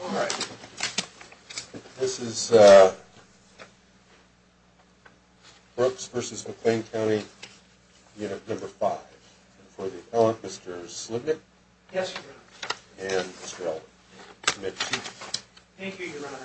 All right. This is Brooks v. McLean County Unit No. 5. For the appellant, Mr. Slipnick. Yes, Your Honor. And Mr. Ellard. Thank you, Your Honor.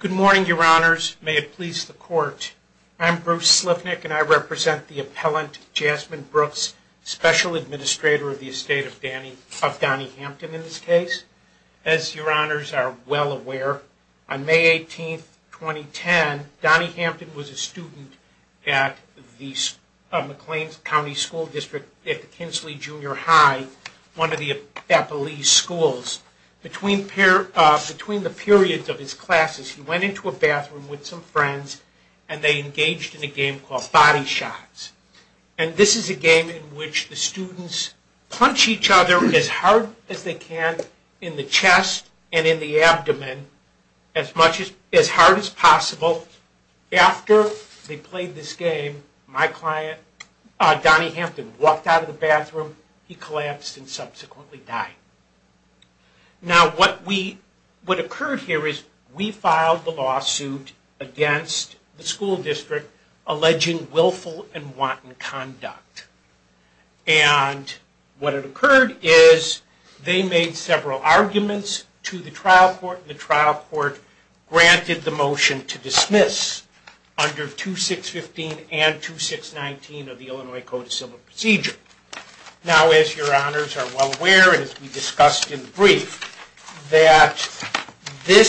Good morning, Your Honors. May it please the Court. I'm Bruce Slipnick, and I represent the appellant, Jasmine Brooks, Special Administrator of the Estate of Donny Hampton, in this case. As Your Honors are well aware, on May 18, 2010, Donny Hampton was a student at McLean County School District No. 5. At the Kinsley Junior High, one of the appellee schools. Between the periods of his classes, he went into a bathroom with some friends, and they engaged in a game called Body Shots. And this is a game in which the students punch each other as hard as they can in the chest and in the abdomen, as hard as possible. So, after they played this game, my client, Donny Hampton, walked out of the bathroom. He collapsed and subsequently died. Now, what occurred here is, we filed the lawsuit against the school district alleging willful and wanton conduct. And what had occurred is, they made several arguments to the trial court, and the trial court granted the motion to dismiss. Under 2615 and 2619 of the Illinois Code of Civil Procedure. Now, as Your Honors are well aware, and as we discussed in the brief, that the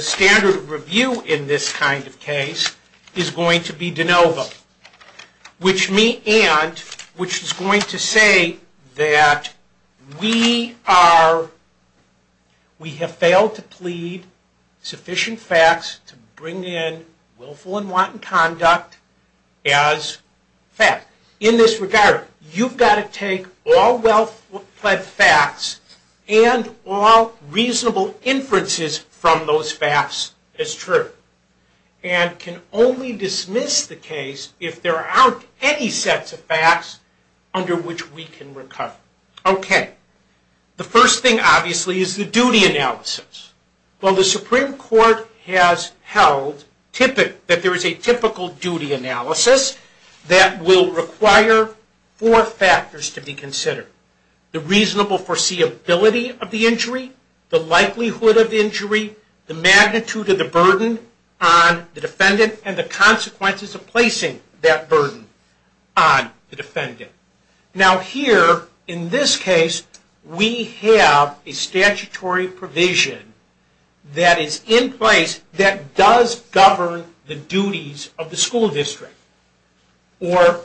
standard of review in this kind of case is going to be de novo. Which is going to say that we have failed to plead sufficient facts to bring in willful and wanton conduct as fact. In this regard, you've got to take all well-pled facts and all reasonable inferences from those facts as true. And can only dismiss the case if there aren't any sets of facts under which we can recover. Okay. The first thing, obviously, is the duty analysis. Well, the Supreme Court has held that there is a typical duty analysis that will require four factors to be considered. The reasonable foreseeability of the injury, the likelihood of injury, the magnitude of the burden on the defendant, and the consequences of placing that burden on the defendant. Now, here, in this case, we have a statutory provision that is in place that does govern the duties of the school district. Or,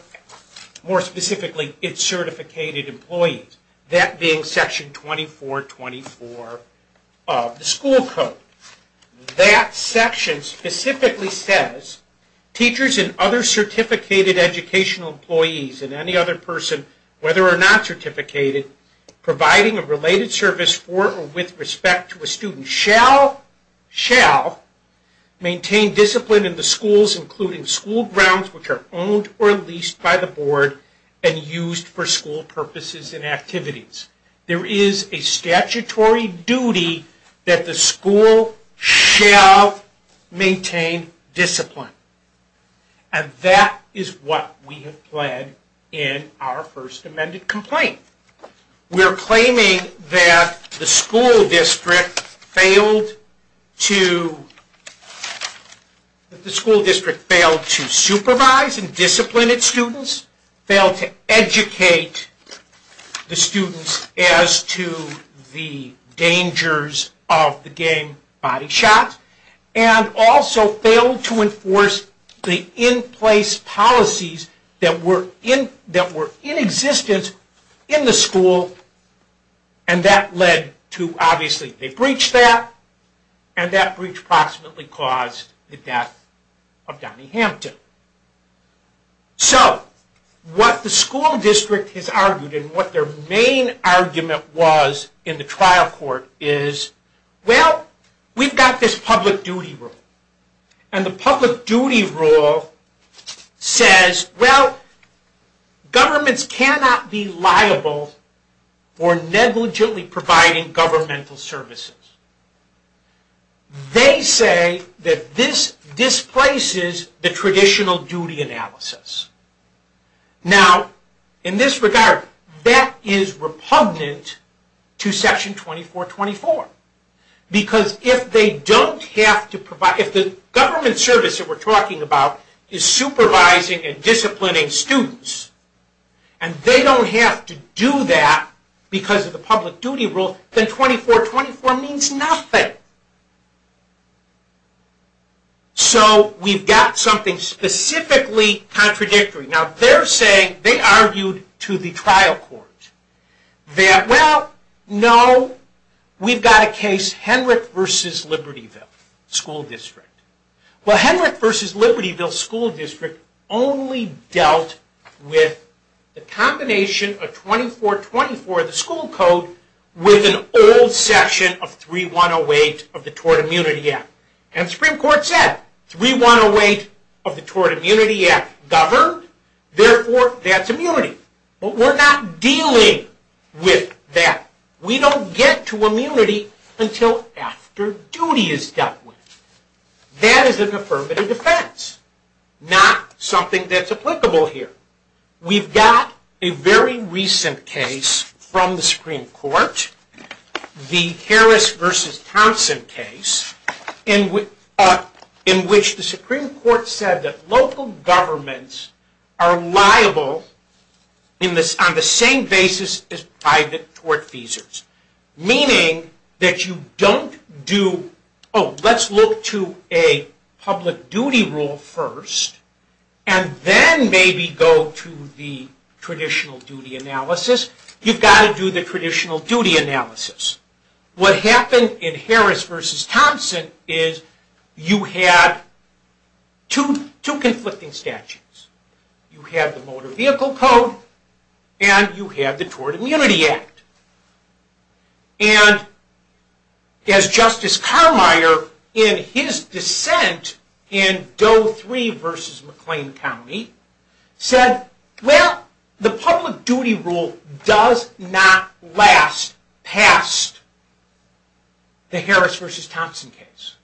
more specifically, its certificated employees. That being Section 2424 of the school code. That section specifically says, teachers and other certificated educational employees and any other person, whether or not certificated, providing a related service for or with respect to a student, shall maintain discipline in the schools including school grounds which are owned or leased by the board and used for school purposes and activities. There is a statutory duty that the school shall maintain discipline. And that is what we have pled in our first amended complaint. We are claiming that the school district failed to supervise and discipline its students, failed to educate the students as to the dangers of the gang body shot, and also failed to enforce the in-place policies that were in existence in the school district. And that led to, obviously, they breached that, and that breach approximately caused the death of Donnie Hampton. So, what the school district has argued and what their main argument was in the trial court is, well, we've got this public duty rule. And the public duty rule says, well, governments cannot be liable for negligently providing governmental services. They say that this displaces the traditional duty analysis. Now, in this regard, that is repugnant to Section 2424. Because if they don't have to provide, if the government service that we're talking about is supervising and disciplining students, and they don't have to do that because of the public duty rule, then 2424 means nothing. So, we've got something specifically contradictory. Now, they're saying, they argued to the trial court that, well, no, we've got a case, Henrick v. Libertyville School District. Well, Henrick v. Libertyville School District only dealt with the combination of 2424, the school code, with an old section of 3108 of the Tort Immunity Act. And the Supreme Court said, 3108 of the Tort Immunity Act governed, therefore, that's immunity. But we're not dealing with that. We don't get to immunity until after duty is dealt with. That is an affirmative defense, not something that's applicable here. We've got a very recent case from the Supreme Court, the Harris v. Thompson case, in which the Supreme Court said that local governments are liable on the same basis as private tort feasors. Meaning that you don't do, oh, let's look to a public duty rule first, and then maybe go to the traditional duty analysis. You've got to do the traditional duty analysis. What happened in Harris v. Thompson is you had two conflicting statutes. You have the Motor Vehicle Code, and you have the Tort Immunity Act. And as Justice Carmier, in his dissent in Doe 3 v. McLean County, said, well, the public duty rule does not last past the Harris v. Thompson case.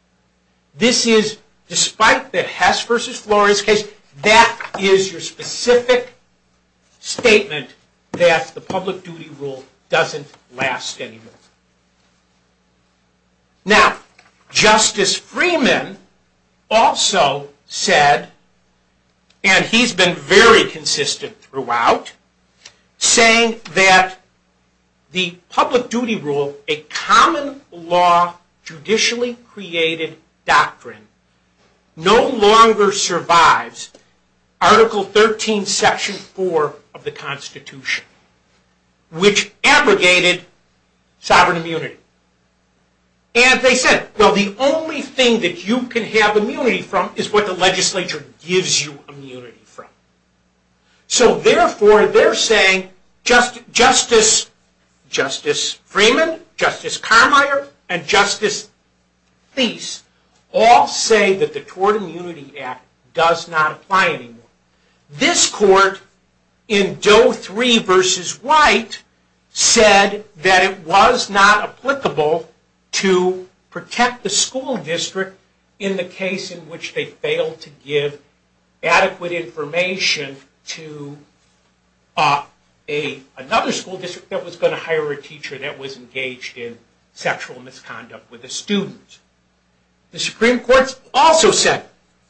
This is, despite the Hess v. Flores case, that is your specific statement that the public duty rule doesn't last anymore. Now, Justice Freeman also said, and he's been very consistent throughout, saying that the public duty rule, a common law, judicially created doctrine, no longer survives Article 13, Section 4 of the Constitution, which abrogated sovereign immunity. And they said, well, the only thing that you can have immunity from is what the legislature gives you immunity from. So, therefore, they're saying Justice Freeman, Justice Carmier, and Justice Theis all say that the Tort Immunity Act does not apply anymore. This court, in Doe 3 v. White, said that it was not applicable to protect the school district in the case in which they failed to give adequate information to another school district that was going to hire a teacher that was engaged in sexual misconduct with a student. The Supreme Court also said,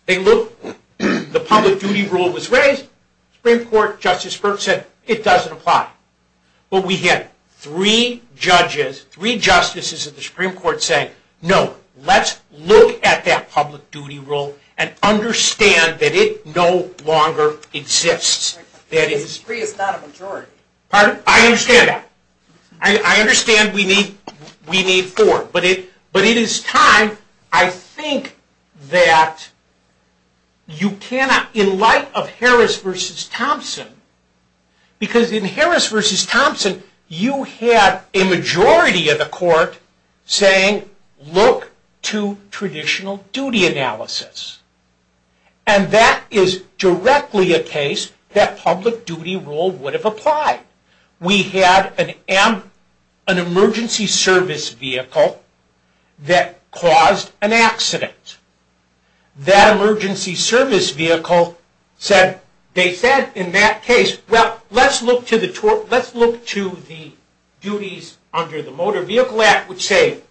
the public duty rule was raised. The Supreme Court, Justice Burke said, it doesn't apply. But we had three judges, three justices of the Supreme Court say, no, let's look at that public duty rule and understand that it no longer exists. Three is not a majority. Pardon? I understand that. I understand we need four. But it is time, I think, that you cannot, in light of Harris v. Thompson, because in Harris v. Thompson, you have a majority of the court saying, look to traditional duty analysis. And that is directly a case that public duty rule would have applied. We had an emergency service vehicle that caused an accident. That emergency service vehicle said, they said in that case, well, let's look to the duties under the Motor Vehicle Act, which say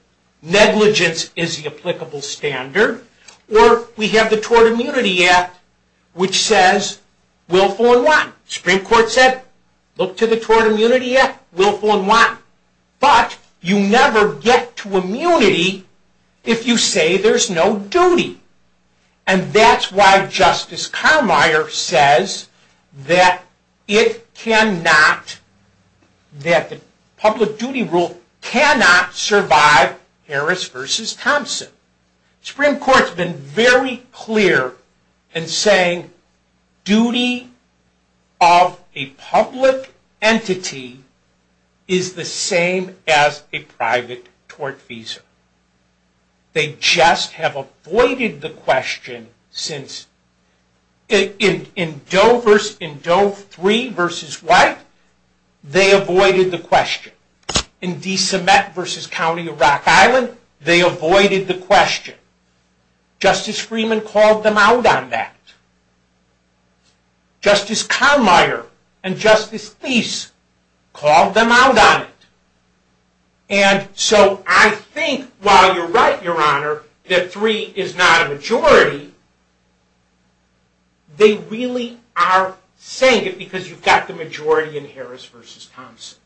negligence is the applicable standard. Or we have the Tort Immunity Act, which says willful and want. The Supreme Court said, look to the Tort Immunity Act, willful and want. But you never get to immunity if you say there's no duty. And that's why Justice Carmier says that it cannot, that the public duty rule cannot survive Harris v. Thompson. The Supreme Court has been very clear in saying duty of a public entity is the same as a private tort visa. They just have avoided the question since, in Doe v. White, they avoided the question. In DeSomet v. County of Rock Island, they avoided the question. Justice Freeman called them out on that. Justice Carmier and Justice Thies called them out on it. And so I think while you're right, Your Honor, that three is not a majority, they really are saying it because you've got the majority in Harris v. Thompson.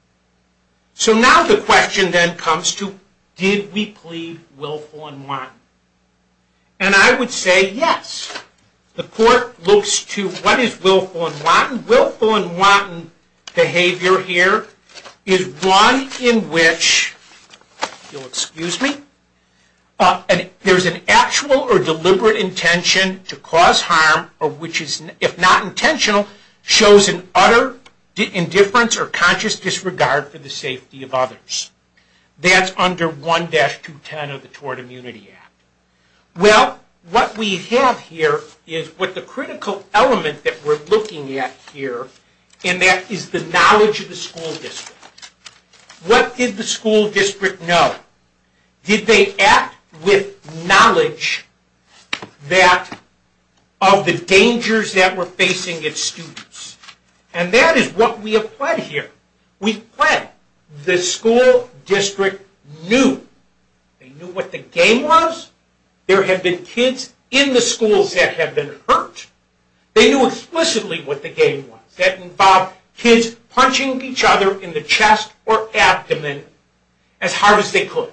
So now the question then comes to, did we plead willful and want? And I would say yes. The court looks to what is willful and want. The willful and want behavior here is one in which, if you'll excuse me, there's an actual or deliberate intention to cause harm or which is, if not intentional, shows an utter indifference or conscious disregard for the safety of others. That's under 1-210 of the Tort Immunity Act. Well, what we have here is what the critical element that we're looking at here, and that is the knowledge of the school district. What did the school district know? Did they act with knowledge of the dangers that were facing its students? And that is what we have pled here. We pled. The school district knew. They knew what the game was. There had been kids in the schools that had been hurt. They knew explicitly what the game was. That involved kids punching each other in the chest or abdomen as hard as they could.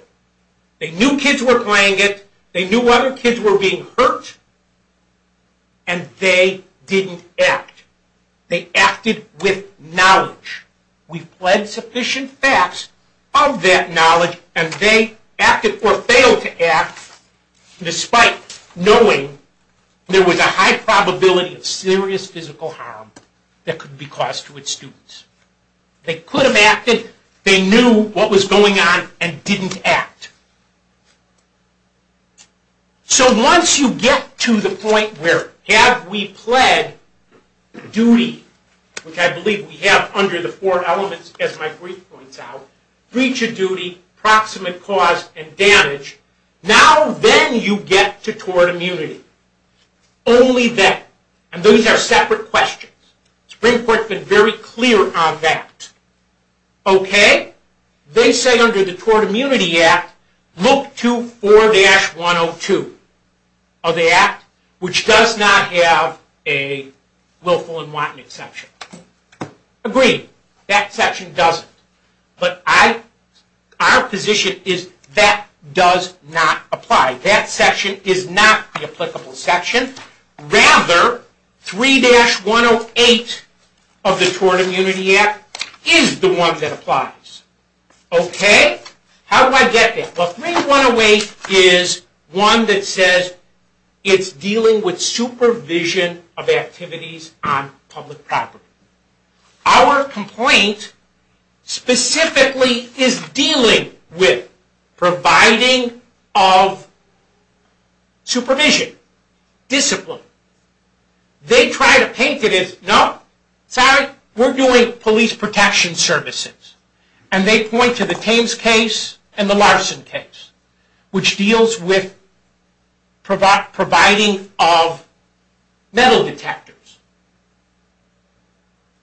They knew kids were playing it. They knew other kids were being hurt. And they didn't act. They acted with knowledge. We pled sufficient facts of that knowledge, and they acted or failed to act, despite knowing there was a high probability of serious physical harm that could be caused to its students. They could have acted. They knew what was going on and didn't act. So once you get to the point where have we pled duty, which I believe we have under the four elements as my brief points out, breach of duty, proximate cause, and damage, now then you get to tort immunity. Only then, and those are separate questions. The Supreme Court has been very clear on that. Okay? They say under the Tort Immunity Act, look to 4-102 of the Act, which does not have a willful and wanton exception. Agreed. That section doesn't. But our position is that does not apply. That section is not the applicable section. Rather, 3-108 of the Tort Immunity Act is the one that applies. Okay? How do I get there? Well, 3-108 is one that says it's dealing with supervision of activities on public property. Our complaint specifically is dealing with providing of supervision, discipline. They try to paint it as, no, sorry, we're doing police protection services. And they point to the Thames case and the Larson case, which deals with providing of metal detectors.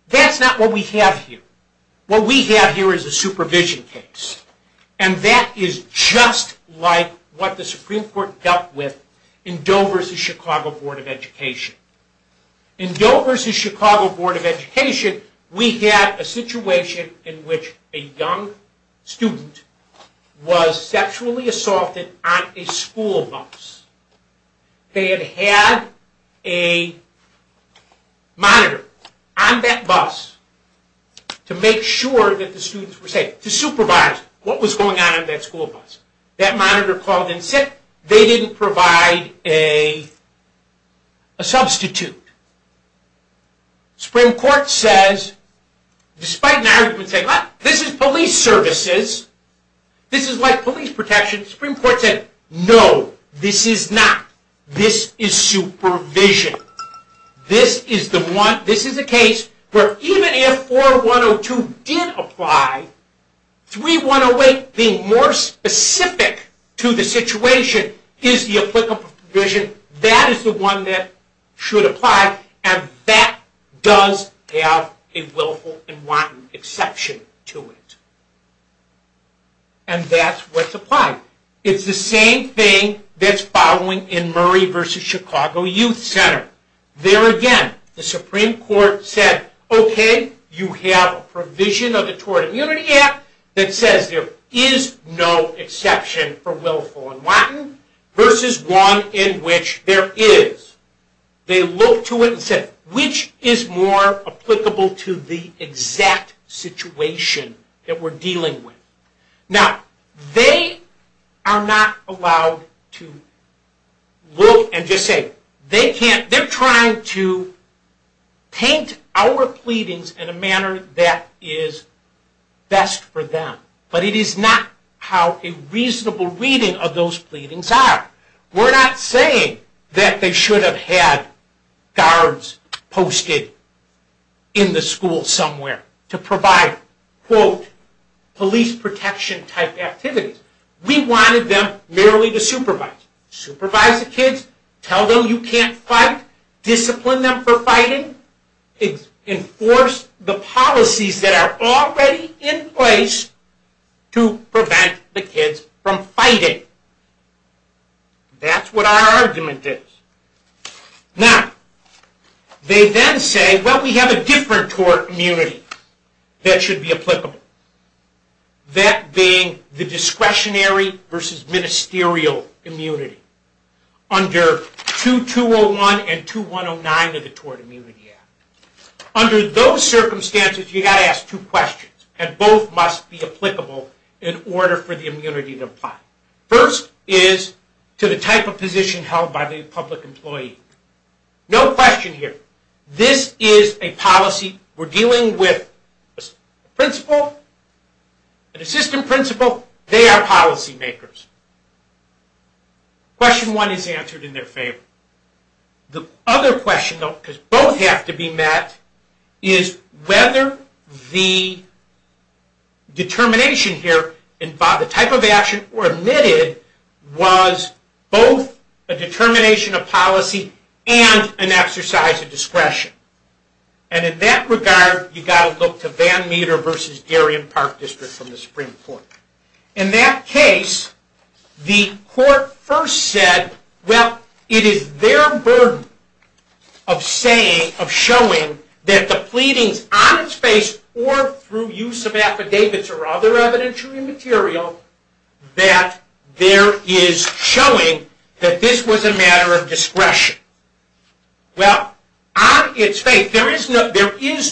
That's not what we have here. What we have here is a supervision case. And that is just like what the Supreme Court dealt with in Doe v. Chicago Board of Education. In Doe v. Chicago Board of Education, we had a situation in which a young student was sexually assaulted on a school bus. They had had a monitor on that bus to make sure that the students were safe, to supervise what was going on in that school bus. That monitor called in sick. They didn't provide a substitute. The Supreme Court says, despite an argument saying, this is police services, this is like police protection. The Supreme Court said, no, this is not. This is supervision. This is the case where even if 4-102 did apply, 3-108 being more specific to the situation is the applicable provision. That is the one that should apply, and that does have a willful and wanton exception to it. And that's what's applied. It's the same thing that's following in Murray v. Chicago Youth Center. There again, the Supreme Court said, okay, you have a provision of the Tort Immunity Act that says there is no exception for willful and wanton versus one in which there is. They looked to it and said, which is more applicable to the exact situation that we're dealing with? Now, they are not allowed to look and just say, they're trying to paint our pleadings in a manner that is best for them. But it is not how a reasonable reading of those pleadings are. We're not saying that they should have had guards posted in the school somewhere to provide, quote, police protection type activities. We wanted them merely to supervise. Supervise the kids, tell them you can't fight, discipline them for fighting, enforce the policies that are already in place to prevent the kids from fighting. That's what our argument is. Now, they then say, well, we have a different tort immunity that should be applicable. That being the discretionary versus ministerial immunity under 2201 and 2109 of the Tort Immunity Act. Under those circumstances, you've got to ask two questions, and both must be applicable in order for the immunity to apply. First is to the type of position held by the public employee. No question here. This is a policy we're dealing with a principal, an assistant principal. They are policy makers. Question one is answered in their favor. The other question, though, because both have to be met, is whether the determination here, the type of action omitted, was both a determination of policy and an exercise of discretion. And in that regard, you've got to look to Van Meter versus Darien Park District from the Supreme Court. In that case, the court first said, well, it is their burden of showing that the pleadings on its face or through use of affidavits or other evidentiary material, that there is showing that this was a matter of discretion. Well, on its face, there is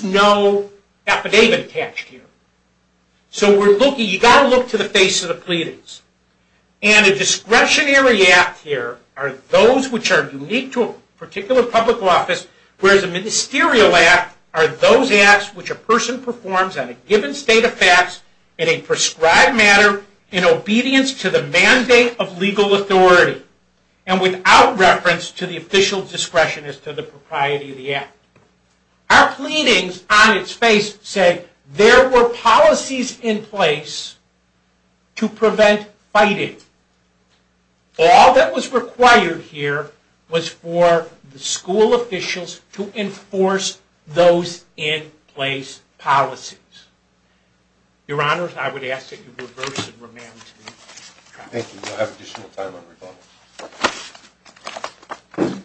no affidavit attached here. So you've got to look to the face of the pleadings. And a discretionary act here are those which are unique to a particular public office, whereas a ministerial act are those acts which a person performs on a given state of facts in a prescribed manner in obedience to the mandate of legal authority and without reference to the official discretion as to the propriety of the act. Our pleadings on its face say there were policies in place to prevent fighting. All that was required here was for the school officials to enforce those in place policies. Your Honors, I would ask that you reverse and remand to me. Thank you. I have additional time on rebuttal.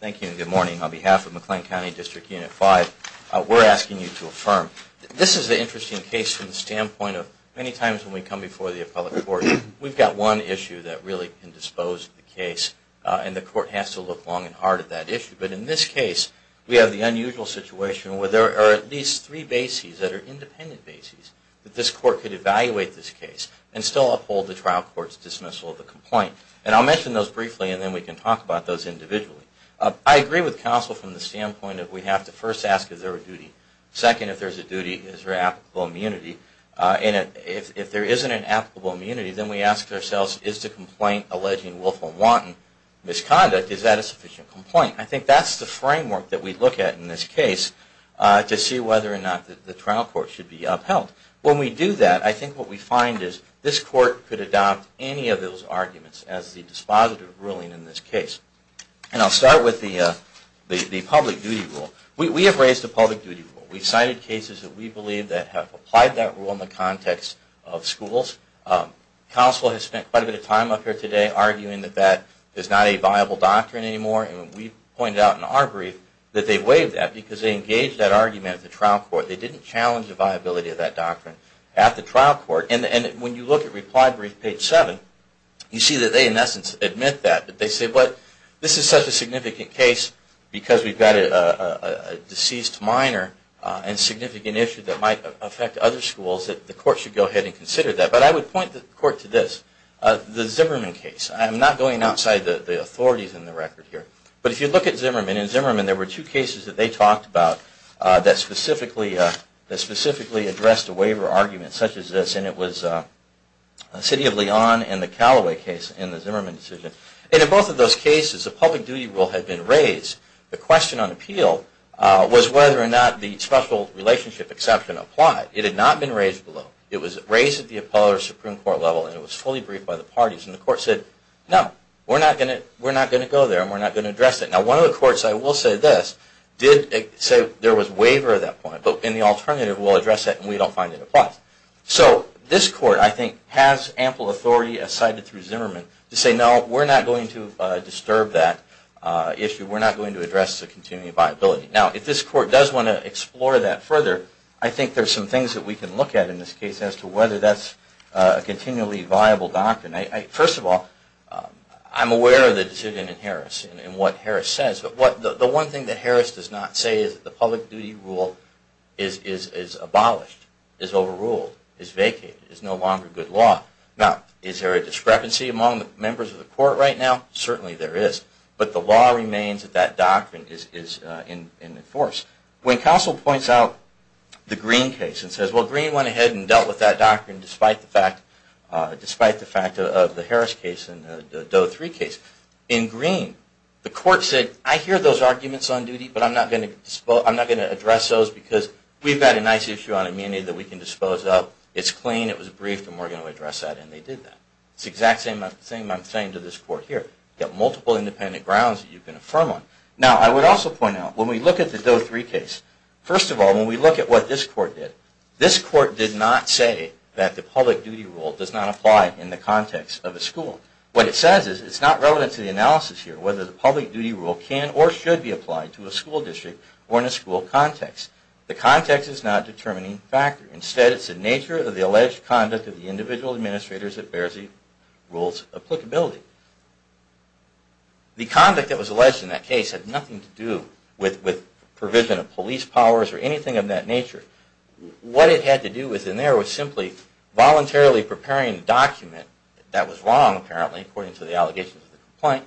Thank you and good morning. On behalf of McLean County District Unit 5, we're asking you to affirm. This is an interesting case from the standpoint of many times when we come before the appellate court, we've got one issue that really can dispose of the case, and the court has to look long and hard at that issue. But in this case, we have the unusual situation where there are at least three bases that are independent bases that this court could evaluate this case and still uphold the trial court's dismissal of the complaint. And I'll mention those briefly and then we can talk about those individually. I agree with counsel from the standpoint that we have to first ask is there a duty? Second, if there's a duty, is there applicable immunity? And if there isn't an applicable immunity, then we ask ourselves, is the complaint alleging willful and wanton misconduct, is that a sufficient complaint? I think that's the framework that we look at in this case to see whether or not the trial court should be upheld. When we do that, I think what we find is this court could adopt any of those arguments as the dispositive ruling in this case. And I'll start with the public duty rule. We have raised the public duty rule. We've cited cases that we believe that have applied that rule in the context of schools. Counsel has spent quite a bit of time up here today arguing that that is not a viable doctrine anymore and we've pointed out in our brief that they've waived that because they engaged that argument at the trial court. They didn't challenge the viability of that doctrine at the trial court. And when you look at reply brief page 7, you see that they in essence admit that. But they say, but this is such a significant case because we've got a deceased minor and significant issue that might affect other schools that the court should go ahead and consider that. But I would point the court to this, the Zimmerman case. I'm not going outside the authorities in the record here. But if you look at Zimmerman, in Zimmerman there were two cases that they talked about that specifically addressed a waiver argument such as this. And it was the City of Leon and the Callaway case in the Zimmerman decision. And in both of those cases, the public duty rule had been raised. The question on appeal was whether or not the special relationship exception applied. It had not been raised below. It was raised at the appellate or Supreme Court level and it was fully briefed by the parties. And the court said, no, we're not going to go there and we're not going to address it. Now one of the courts, I will say this, did say there was waiver at that point. But in the alternative, we'll address it and we don't find it applies. So this court, I think, has ample authority as cited through Zimmerman to say, no, we're not going to disturb that issue. We're not going to address the continuity of viability. Now if this court does want to explore that further, I think there's some things that we can look at in this case as to whether that's a continually viable doctrine. First of all, I'm aware of the decision in Harris and what Harris says. But the one thing that Harris does not say is that the public duty rule is abolished, is overruled, is vacated, is no longer good law. Now is there a discrepancy among members of the court right now? Certainly there is. But the law remains that that doctrine is in force. When counsel points out the Greene case and says, well, Greene went ahead and dealt with that doctrine, despite the fact of the Harris case and the Doe 3 case, in Greene, the court said, I hear those arguments on duty, but I'm not going to address those because we've got a nice issue on immunity that we can dispose of. It's clean, it was briefed, and we're going to address that. And they did that. It's the exact same thing I'm saying to this court here. You've got multiple independent grounds that you can affirm on. Now, I would also point out, when we look at the Doe 3 case, first of all, when we look at what this court did, this court did not say that the public duty rule does not apply in the context of a school. What it says is it's not relevant to the analysis here whether the public duty rule can or should be applied to a school district or in a school context. The context is not a determining factor. Instead, it's the nature of the alleged conduct of the individual administrators that bears the rule's applicability. The conduct that was alleged in that case had nothing to do with provision of police powers or anything of that nature. What it had to do with in there was simply voluntarily preparing a document that was wrong, apparently, according to the allegations of the complaint,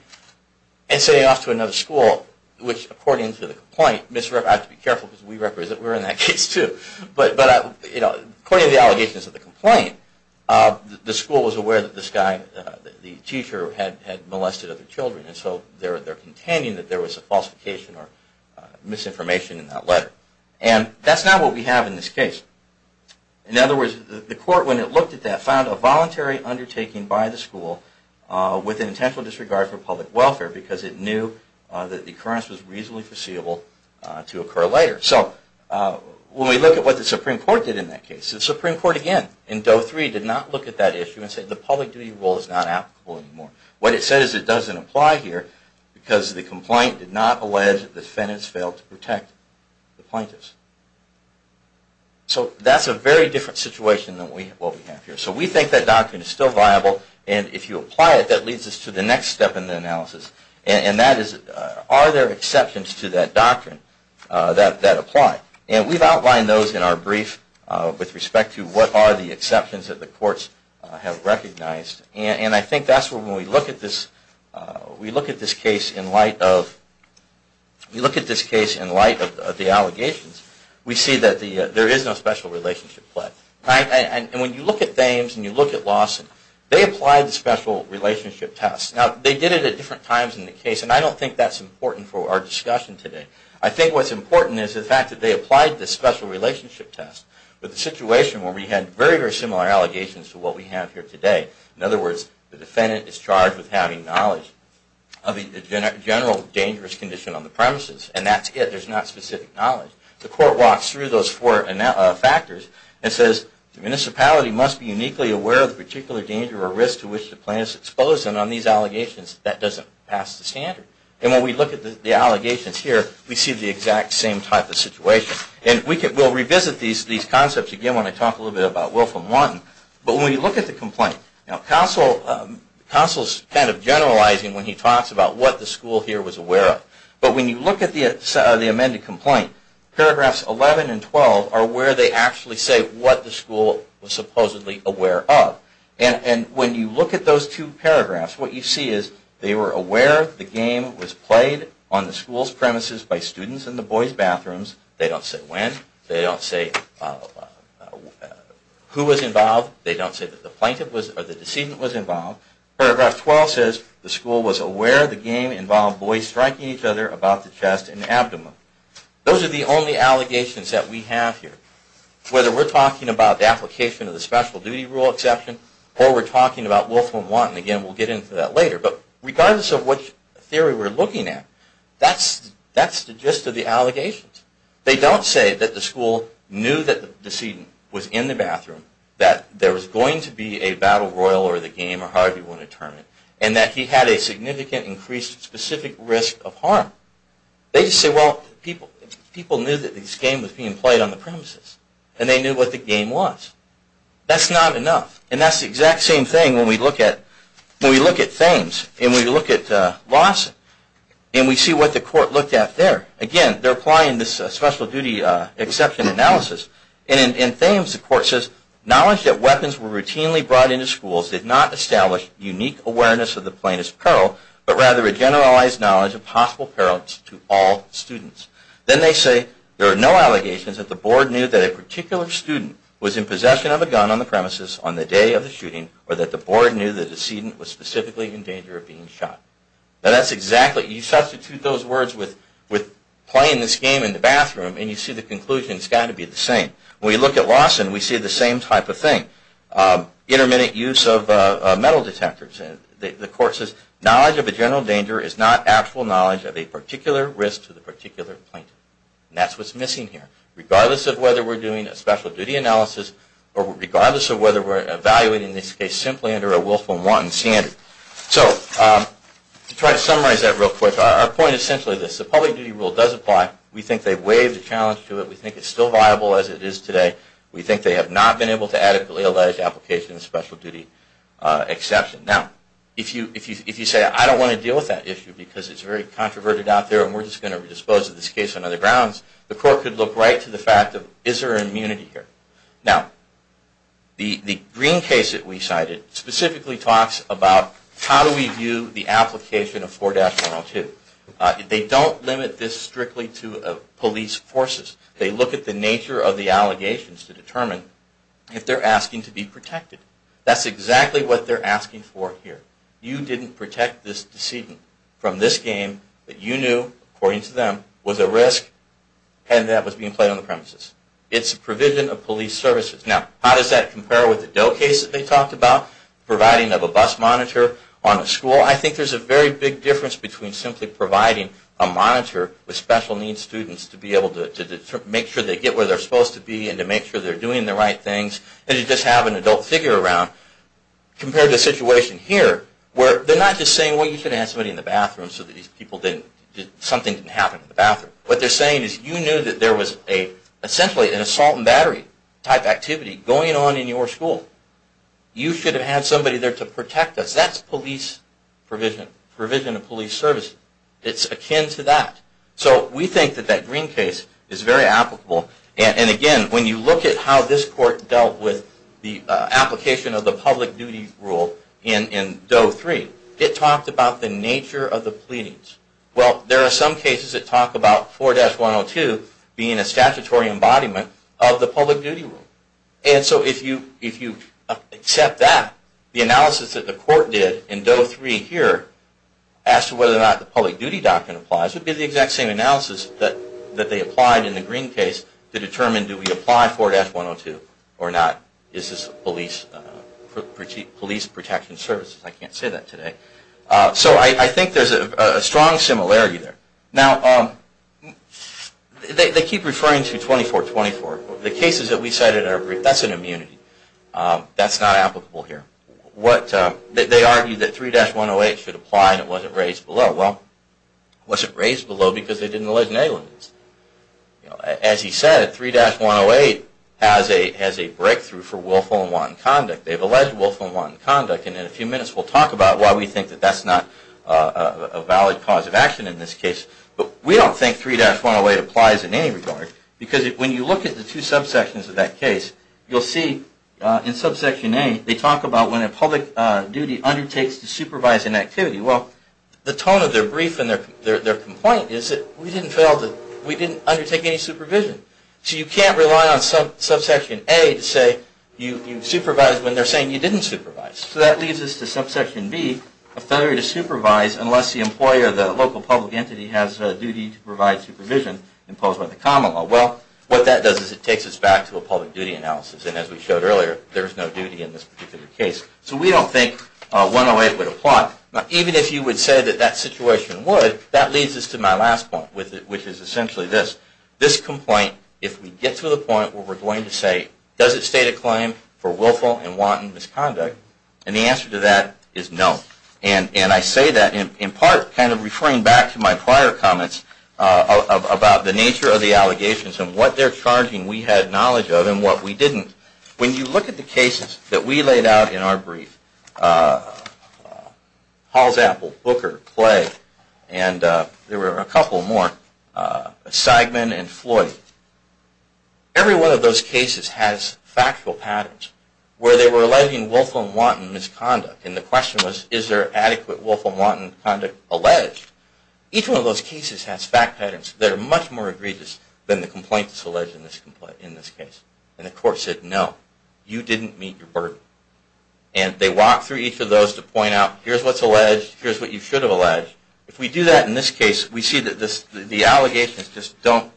and sending it off to another school, which, according to the complaint, I have to be careful because we were in that case too, but according to the allegations of the complaint, the school was aware that this guy, the teacher, had molested other children, and so they're contending that there was a falsification or misinformation in that letter. And that's not what we have in this case. In other words, the court, when it looked at that, found a voluntary undertaking by the school with an intentional disregard for public welfare because it knew that the occurrence was reasonably foreseeable to occur later. So when we look at what the Supreme Court did in that case, the Supreme Court, again, in Doe 3, did not look at that issue and say, the public duty rule is not applicable anymore. What it said is it doesn't apply here because the complaint did not allege that defendants failed to protect the plaintiffs. So that's a very different situation than what we have here. So we think that doctrine is still viable, and if you apply it, that leads us to the next step in the analysis, and that is, are there exceptions to that doctrine that apply? And we've outlined those in our brief with respect to what are the exceptions that the courts have recognized, and I think that's where when we look at this case in light of the allegations, we see that there is no special relationship play. And when you look at Dames and you look at Lawson, they applied the special relationship test. Now, they did it at different times in the case, and I don't think that's important for our discussion today. I think what's important is the fact that they applied the special relationship test with a situation where we had very, very similar allegations to what we have here today. In other words, the defendant is charged with having knowledge of the general dangerous condition on the premises, and that's it. There's not specific knowledge. The court walks through those four factors and says, the municipality must be uniquely aware of the particular danger or risk to which the plaintiff is exposed. And on these allegations, that doesn't pass the standard. And when we look at the allegations here, we see the exact same type of situation. And we'll revisit these concepts again when I talk a little bit about Wilfram Lawton. But when we look at the complaint, now, Counsel's kind of generalizing when he talks about what the school here was aware of. But when you look at the amended complaint, paragraphs 11 and 12 are where they actually say what the school was supposedly aware of. And when you look at those two paragraphs, what you see is they were aware the game was played on the school's premises by students in the boys' bathrooms. They don't say when. They don't say who was involved. They don't say that the plaintiff was or the decedent was involved. Paragraph 12 says the school was aware the game involved boys striking each other about the chest and abdomen. Those are the only allegations that we have here. Whether we're talking about the application of the special duty rule exception or we're talking about Wilfram Lawton. Again, we'll get into that later. But regardless of what theory we're looking at, that's the gist of the allegations. They don't say that the school knew that the decedent was in the bathroom, that there was going to be a battle royal or the game or however you want to term it, and that he had a significant increased specific risk of harm. They just say, well, people knew that this game was being played on the premises and they knew what the game was. That's not enough. And that's the exact same thing when we look at Thames and we look at Lawson and we see what the court looked at there. Again, they're applying this special duty exception analysis. And in Thames, the court says, knowledge that weapons were routinely brought into schools did not establish unique awareness of the plaintiff's generalized knowledge of possible peril to all students. Then they say, there are no allegations that the board knew that a particular student was in possession of a gun on the premises on the day of the shooting or that the board knew the decedent was specifically in danger of being shot. Now that's exactly, you substitute those words with playing this game in the bathroom and you see the conclusion has got to be the same. When we look at Lawson, we see the same type of thing. Intermittent use of metal detectors. The court says, knowledge of a general danger is not actual knowledge of a particular risk to the particular plaintiff. And that's what's missing here. Regardless of whether we're doing a special duty analysis or regardless of whether we're evaluating this case simply under a willful and wanton standard. So to try to summarize that real quick, our point is essentially this. The public duty rule does apply. We think they've waived the challenge to it. We think it's still viable as it is today. We think they have not been able to adequately allege application of special duty exception. Now, if you say I don't want to deal with that issue because it's very controverted out there and we're just going to dispose of this case on other grounds, the court could look right to the fact of is there immunity here. Now, the green case that we cited specifically talks about how do we view the application of 4-102. They don't limit this strictly to police forces. They look at the nature of the allegations to determine if they're asking to be protected. That's exactly what they're asking for here. You didn't protect this decedent from this game that you knew, according to them, was a risk and that was being played on the premises. It's a provision of police services. Now, how does that compare with the Doe case that they talked about, providing of a bus monitor on a school? Well, I think there's a very big difference between simply providing a monitor with special needs students to be able to make sure they get where they're supposed to be and to make sure they're doing the right things and to just have an adult figure around compared to the situation here where they're not just saying, well, you should have had somebody in the bathroom so that something didn't happen in the bathroom. What they're saying is you knew that there was essentially an assault and battery type activity going on in your school. You should have had somebody there to protect us. That's provision of police service. It's akin to that. So we think that that Green case is very applicable. And again, when you look at how this court dealt with the application of the public duty rule in Doe 3, it talked about the nature of the pleadings. Well, there are some cases that talk about 4-102 being a statutory embodiment of the public duty rule. And so if you accept that, the analysis that the court did in Doe 3 here as to whether or not the public duty doctrine applies would be the exact same analysis that they applied in the Green case to determine do we apply 4-102 or not. Is this police protection services? I can't say that today. So I think there's a strong similarity there. Now, they keep referring to 24-24. The cases that we cited in our brief, that's an immunity. That's not applicable here. They argue that 3-108 should apply and it wasn't raised below. Well, it wasn't raised below because they didn't allege any limits. As he said, 3-108 has a breakthrough for willful and wanton conduct. They've alleged willful and wanton conduct. And in a few minutes, we'll talk about why we think that that's not a valid cause of action in this case. But we don't think 3-108 applies in any regard because when you look at the two subsections of that case, you'll see in subsection A, they talk about when a public duty undertakes to supervise an activity. Well, the tone of their brief and their complaint is that we didn't undertake any supervision. So you can't rely on subsection A to say you supervised when they're saying you didn't supervise. So that leads us to subsection B, a failure to supervise unless the employer, the local public entity, has a duty to provide supervision imposed by the common law. Well, what that does is it takes us back to a public duty analysis. And as we showed earlier, there is no duty in this particular case. So we don't think 108 would apply. Now, even if you would say that that situation would, that leads us to my last point, which is essentially this. This complaint, if we get to the point where we're going to say, does it state a claim for willful and wanton misconduct? And the answer to that is no. And I say that in part kind of referring back to my prior comments about the nature of the allegations and what they're charging we had knowledge of and what we didn't. When you look at the cases that we laid out in our brief, Halls Apple, Booker, Clay, and there were a couple more, Seidman and Floyd. Every one of those cases has factual patterns where they were alleging willful and wanton misconduct. And the question was, is there adequate willful and wanton conduct alleged? Each one of those cases has fact patterns that are much more egregious than the complaints alleged in this case. And the court said, no. You didn't meet your burden. And they walk through each of those to point out, here's what's alleged. Here's what you should have alleged. If we do that in this case, we see that the allegations just don't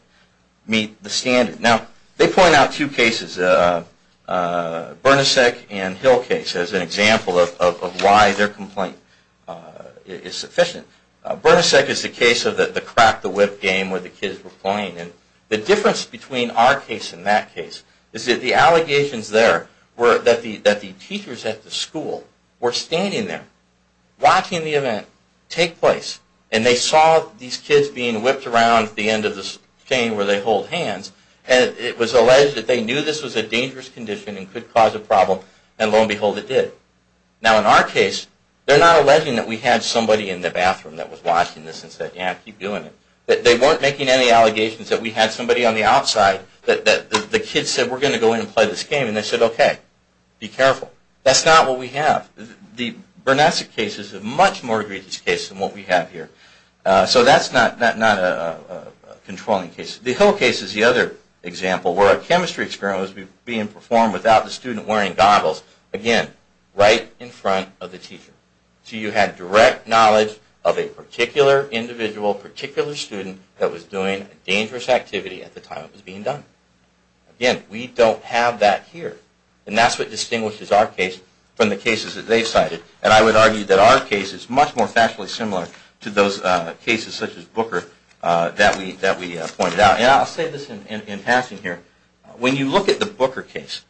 meet the standard. Now, they point out two cases, Bernicek and Hill case, as an example of why their complaint is sufficient. Bernicek is the case of the crack the whip game where the kids were playing. And the difference between our case and that case is that the allegations there were that the teachers at the school were standing there, watching the event take place. And they saw these kids being whipped around at the end of the chain where they hold hands. And it was alleged that they knew this was a dangerous condition and could cause a problem. And lo and behold, it did. Now, in our case, they're not alleging that we had somebody in the bathroom that was watching this and said, yeah, keep doing it. They weren't making any allegations that we had somebody on the outside that the kids said, we're going to go in and play this game. And they said, OK, be careful. That's not what we have. The Bernicek case is a much more egregious case than what we have here. So that's not a controlling case. The Hill case is the other example where a chemistry experiment was being performed without the student wearing goggles. Again, right in front of the teacher. So you had direct knowledge of a particular individual, particular student that was doing a dangerous activity at the time it was being done. Again, we don't have that here. And that's what distinguishes our case from the cases that they've cited. And I would argue that our case is much more factually similar to those cases such as Booker that we pointed out. And I'll say this in passing here. When you look at the Booker case,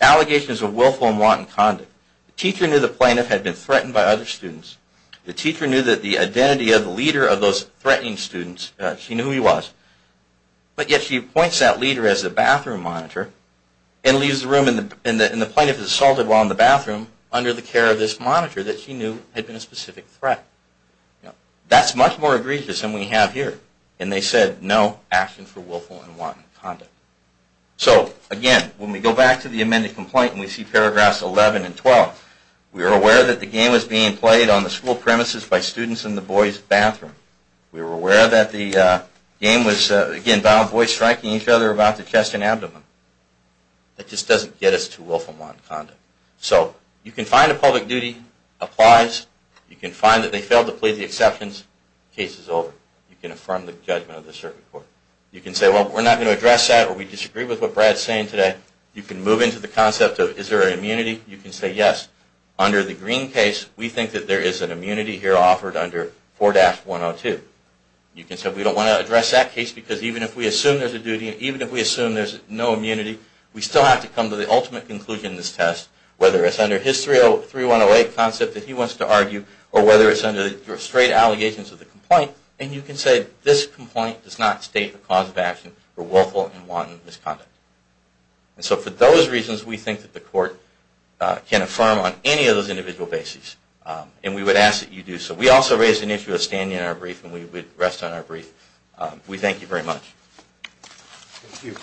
allegations of willful and wanton conduct. The teacher knew the plaintiff had been threatened by other students. The teacher knew that the identity of the leader of those threatening students, she knew who he was. But yet she appoints that leader as the bathroom monitor. And leaves the room and the plaintiff is assaulted while in the bathroom under the care of this monitor that she knew had been a specific threat. That's much more egregious than we have here. And they said, no action for willful and wanton conduct. So again, when we go back to the amended complaint and we see paragraphs 11 and 12, we are aware that the game was being played on the school premises by students in the boys' bathroom. We were aware that the game was, again, violent boys striking each other about the chest and abdomen. That just doesn't get us to willful and wanton conduct. So you can find a public duty applies. You can find that they failed to plead the exceptions. Case is over. You can affirm the judgment of the circuit court. You can say, well, we're not going to address that or we disagree with what Brad's saying today. You can move into the concept of is there an immunity. You can say, yes, under the green case, we think that there is an immunity here offered under 4-102. You can say, we don't want to address that case because even if we assume there's a duty, even if we assume there's no immunity, we still have to come to the ultimate conclusion in this test. Whether it's under his 3-108 concept that he wants to argue or whether it's under straight allegations of the complaint. And you can say, this complaint does not state the cause of action for willful and wanton misconduct. And so for those reasons, we think that the court can affirm on any of those individual bases. And we would ask that you do so. We also raised an issue of standing in our brief, and we would rest on our brief. We thank you very much. Thank you.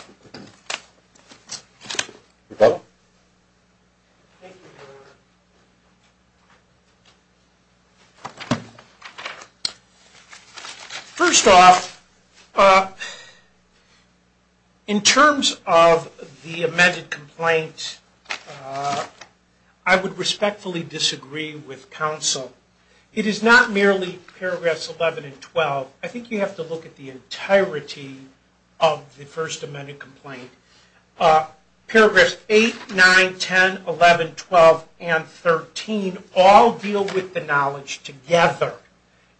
Rebecca? Thank you. First off, in terms of the amended complaint, I would respectfully disagree with counsel. It is not merely paragraphs 11 and 12. I think you have to look at the entirety of the first amended complaint. Paragraphs 8, 9, 10, 11, 12, and 13 all deal with the knowledge together.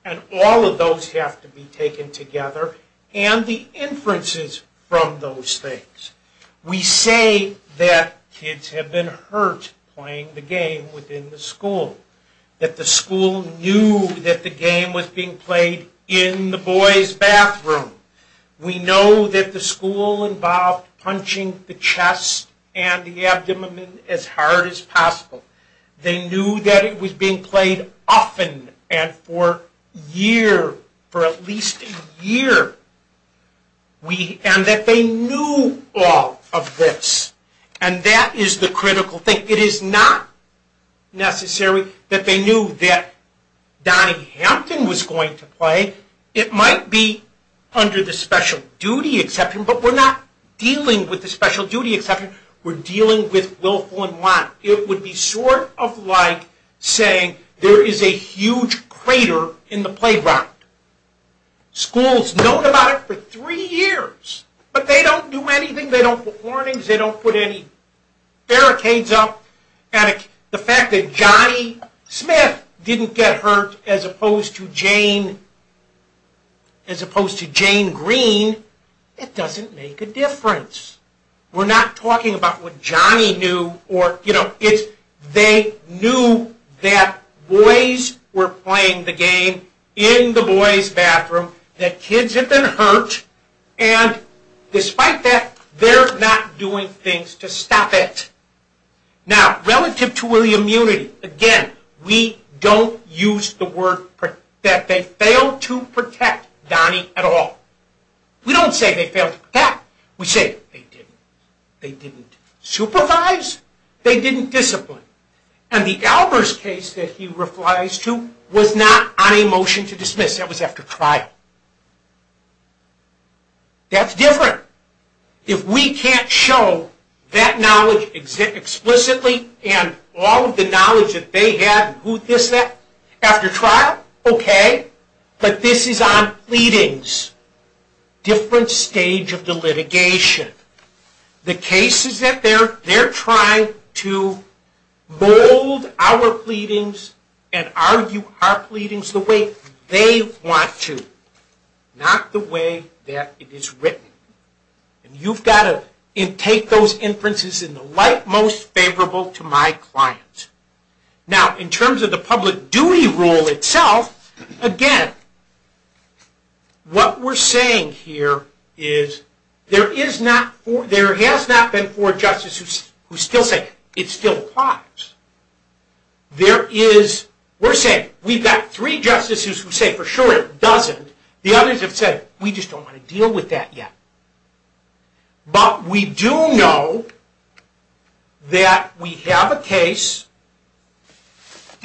And all of those have to be taken together, and the inferences from those things. We say that kids have been hurt playing the game within the school. That the school knew that the game was being played in the boys' bathroom. We know that the school involved punching the chest and the abdomen as hard as possible. They knew that it was being played often and for a year, for at least a year. And that they knew all of this. And that is the critical thing. It is not necessary that they knew that Donnie Hampton was going to play. It might be under the special duty exception, but we're not dealing with the special duty exception. We're dealing with willful and want. It would be sort of like saying there is a huge crater in the playground. Schools know about it for three years, but they don't do anything. They don't put warnings. They don't put any barricades up. And the fact that Johnny Smith didn't get hurt as opposed to Jane Green, it doesn't make a difference. We're not talking about what Johnny knew. They knew that boys were playing the game in the boys' bathroom. That kids have been hurt. And despite that, they're not doing things to stop it. Now, relative to William Unity, again, we don't use the word that they failed to protect Donnie at all. We don't say they failed to protect. We say they didn't. They didn't supervise. They didn't discipline. And the Albers case that he replies to was not on a motion to dismiss. He says that was after trial. That's different. If we can't show that knowledge explicitly and all of the knowledge that they had and who this, that, after trial, okay. But this is on pleadings. Different stage of the litigation. The case is that they're trying to mold our pleadings and argue our pleadings the way they want to, not the way that it is written. And you've got to take those inferences in the light most favorable to my client. Now, in terms of the public duty rule itself, again, what we're saying here is there is not, there has not been four justices who still say it still applies. There is, we're saying we've got three justices who say for sure it doesn't. The others have said we just don't want to deal with that yet. But we do know that we have a case,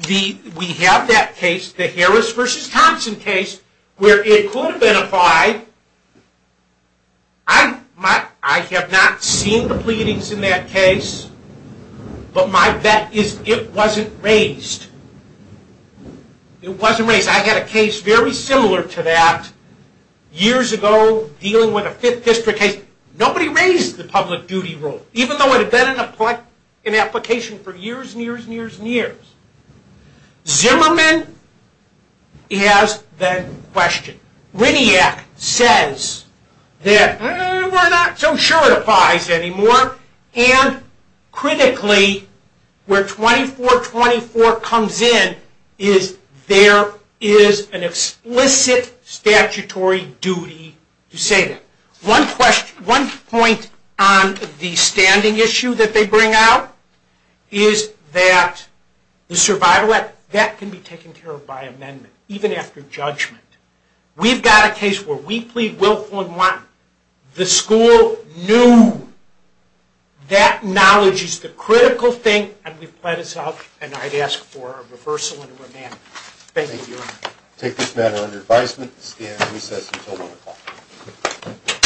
we have that case, the Harris versus Thompson case, where it could have been applied. I have not seen the pleadings in that case, but my bet is it wasn't raised. It wasn't raised. I had a case very similar to that years ago dealing with a Fifth District case. Nobody raised the public duty rule, even though it had been in application for years and years and years and years. Zimmerman has that question. Riniak says that we're not so sure it applies anymore. And critically, where 2424 comes in is there is an explicit statutory duty to say that. One point on the standing issue that they bring out is that the survival act, that can be taken care of by amendment, even after judgment. We've got a case where we plead willful and want the school new. That knowledge is the critical thing. And we've let us out, and I'd ask for a reversal and a remand. Thank you. I take this matter under advisement and stand recess until 1 o'clock.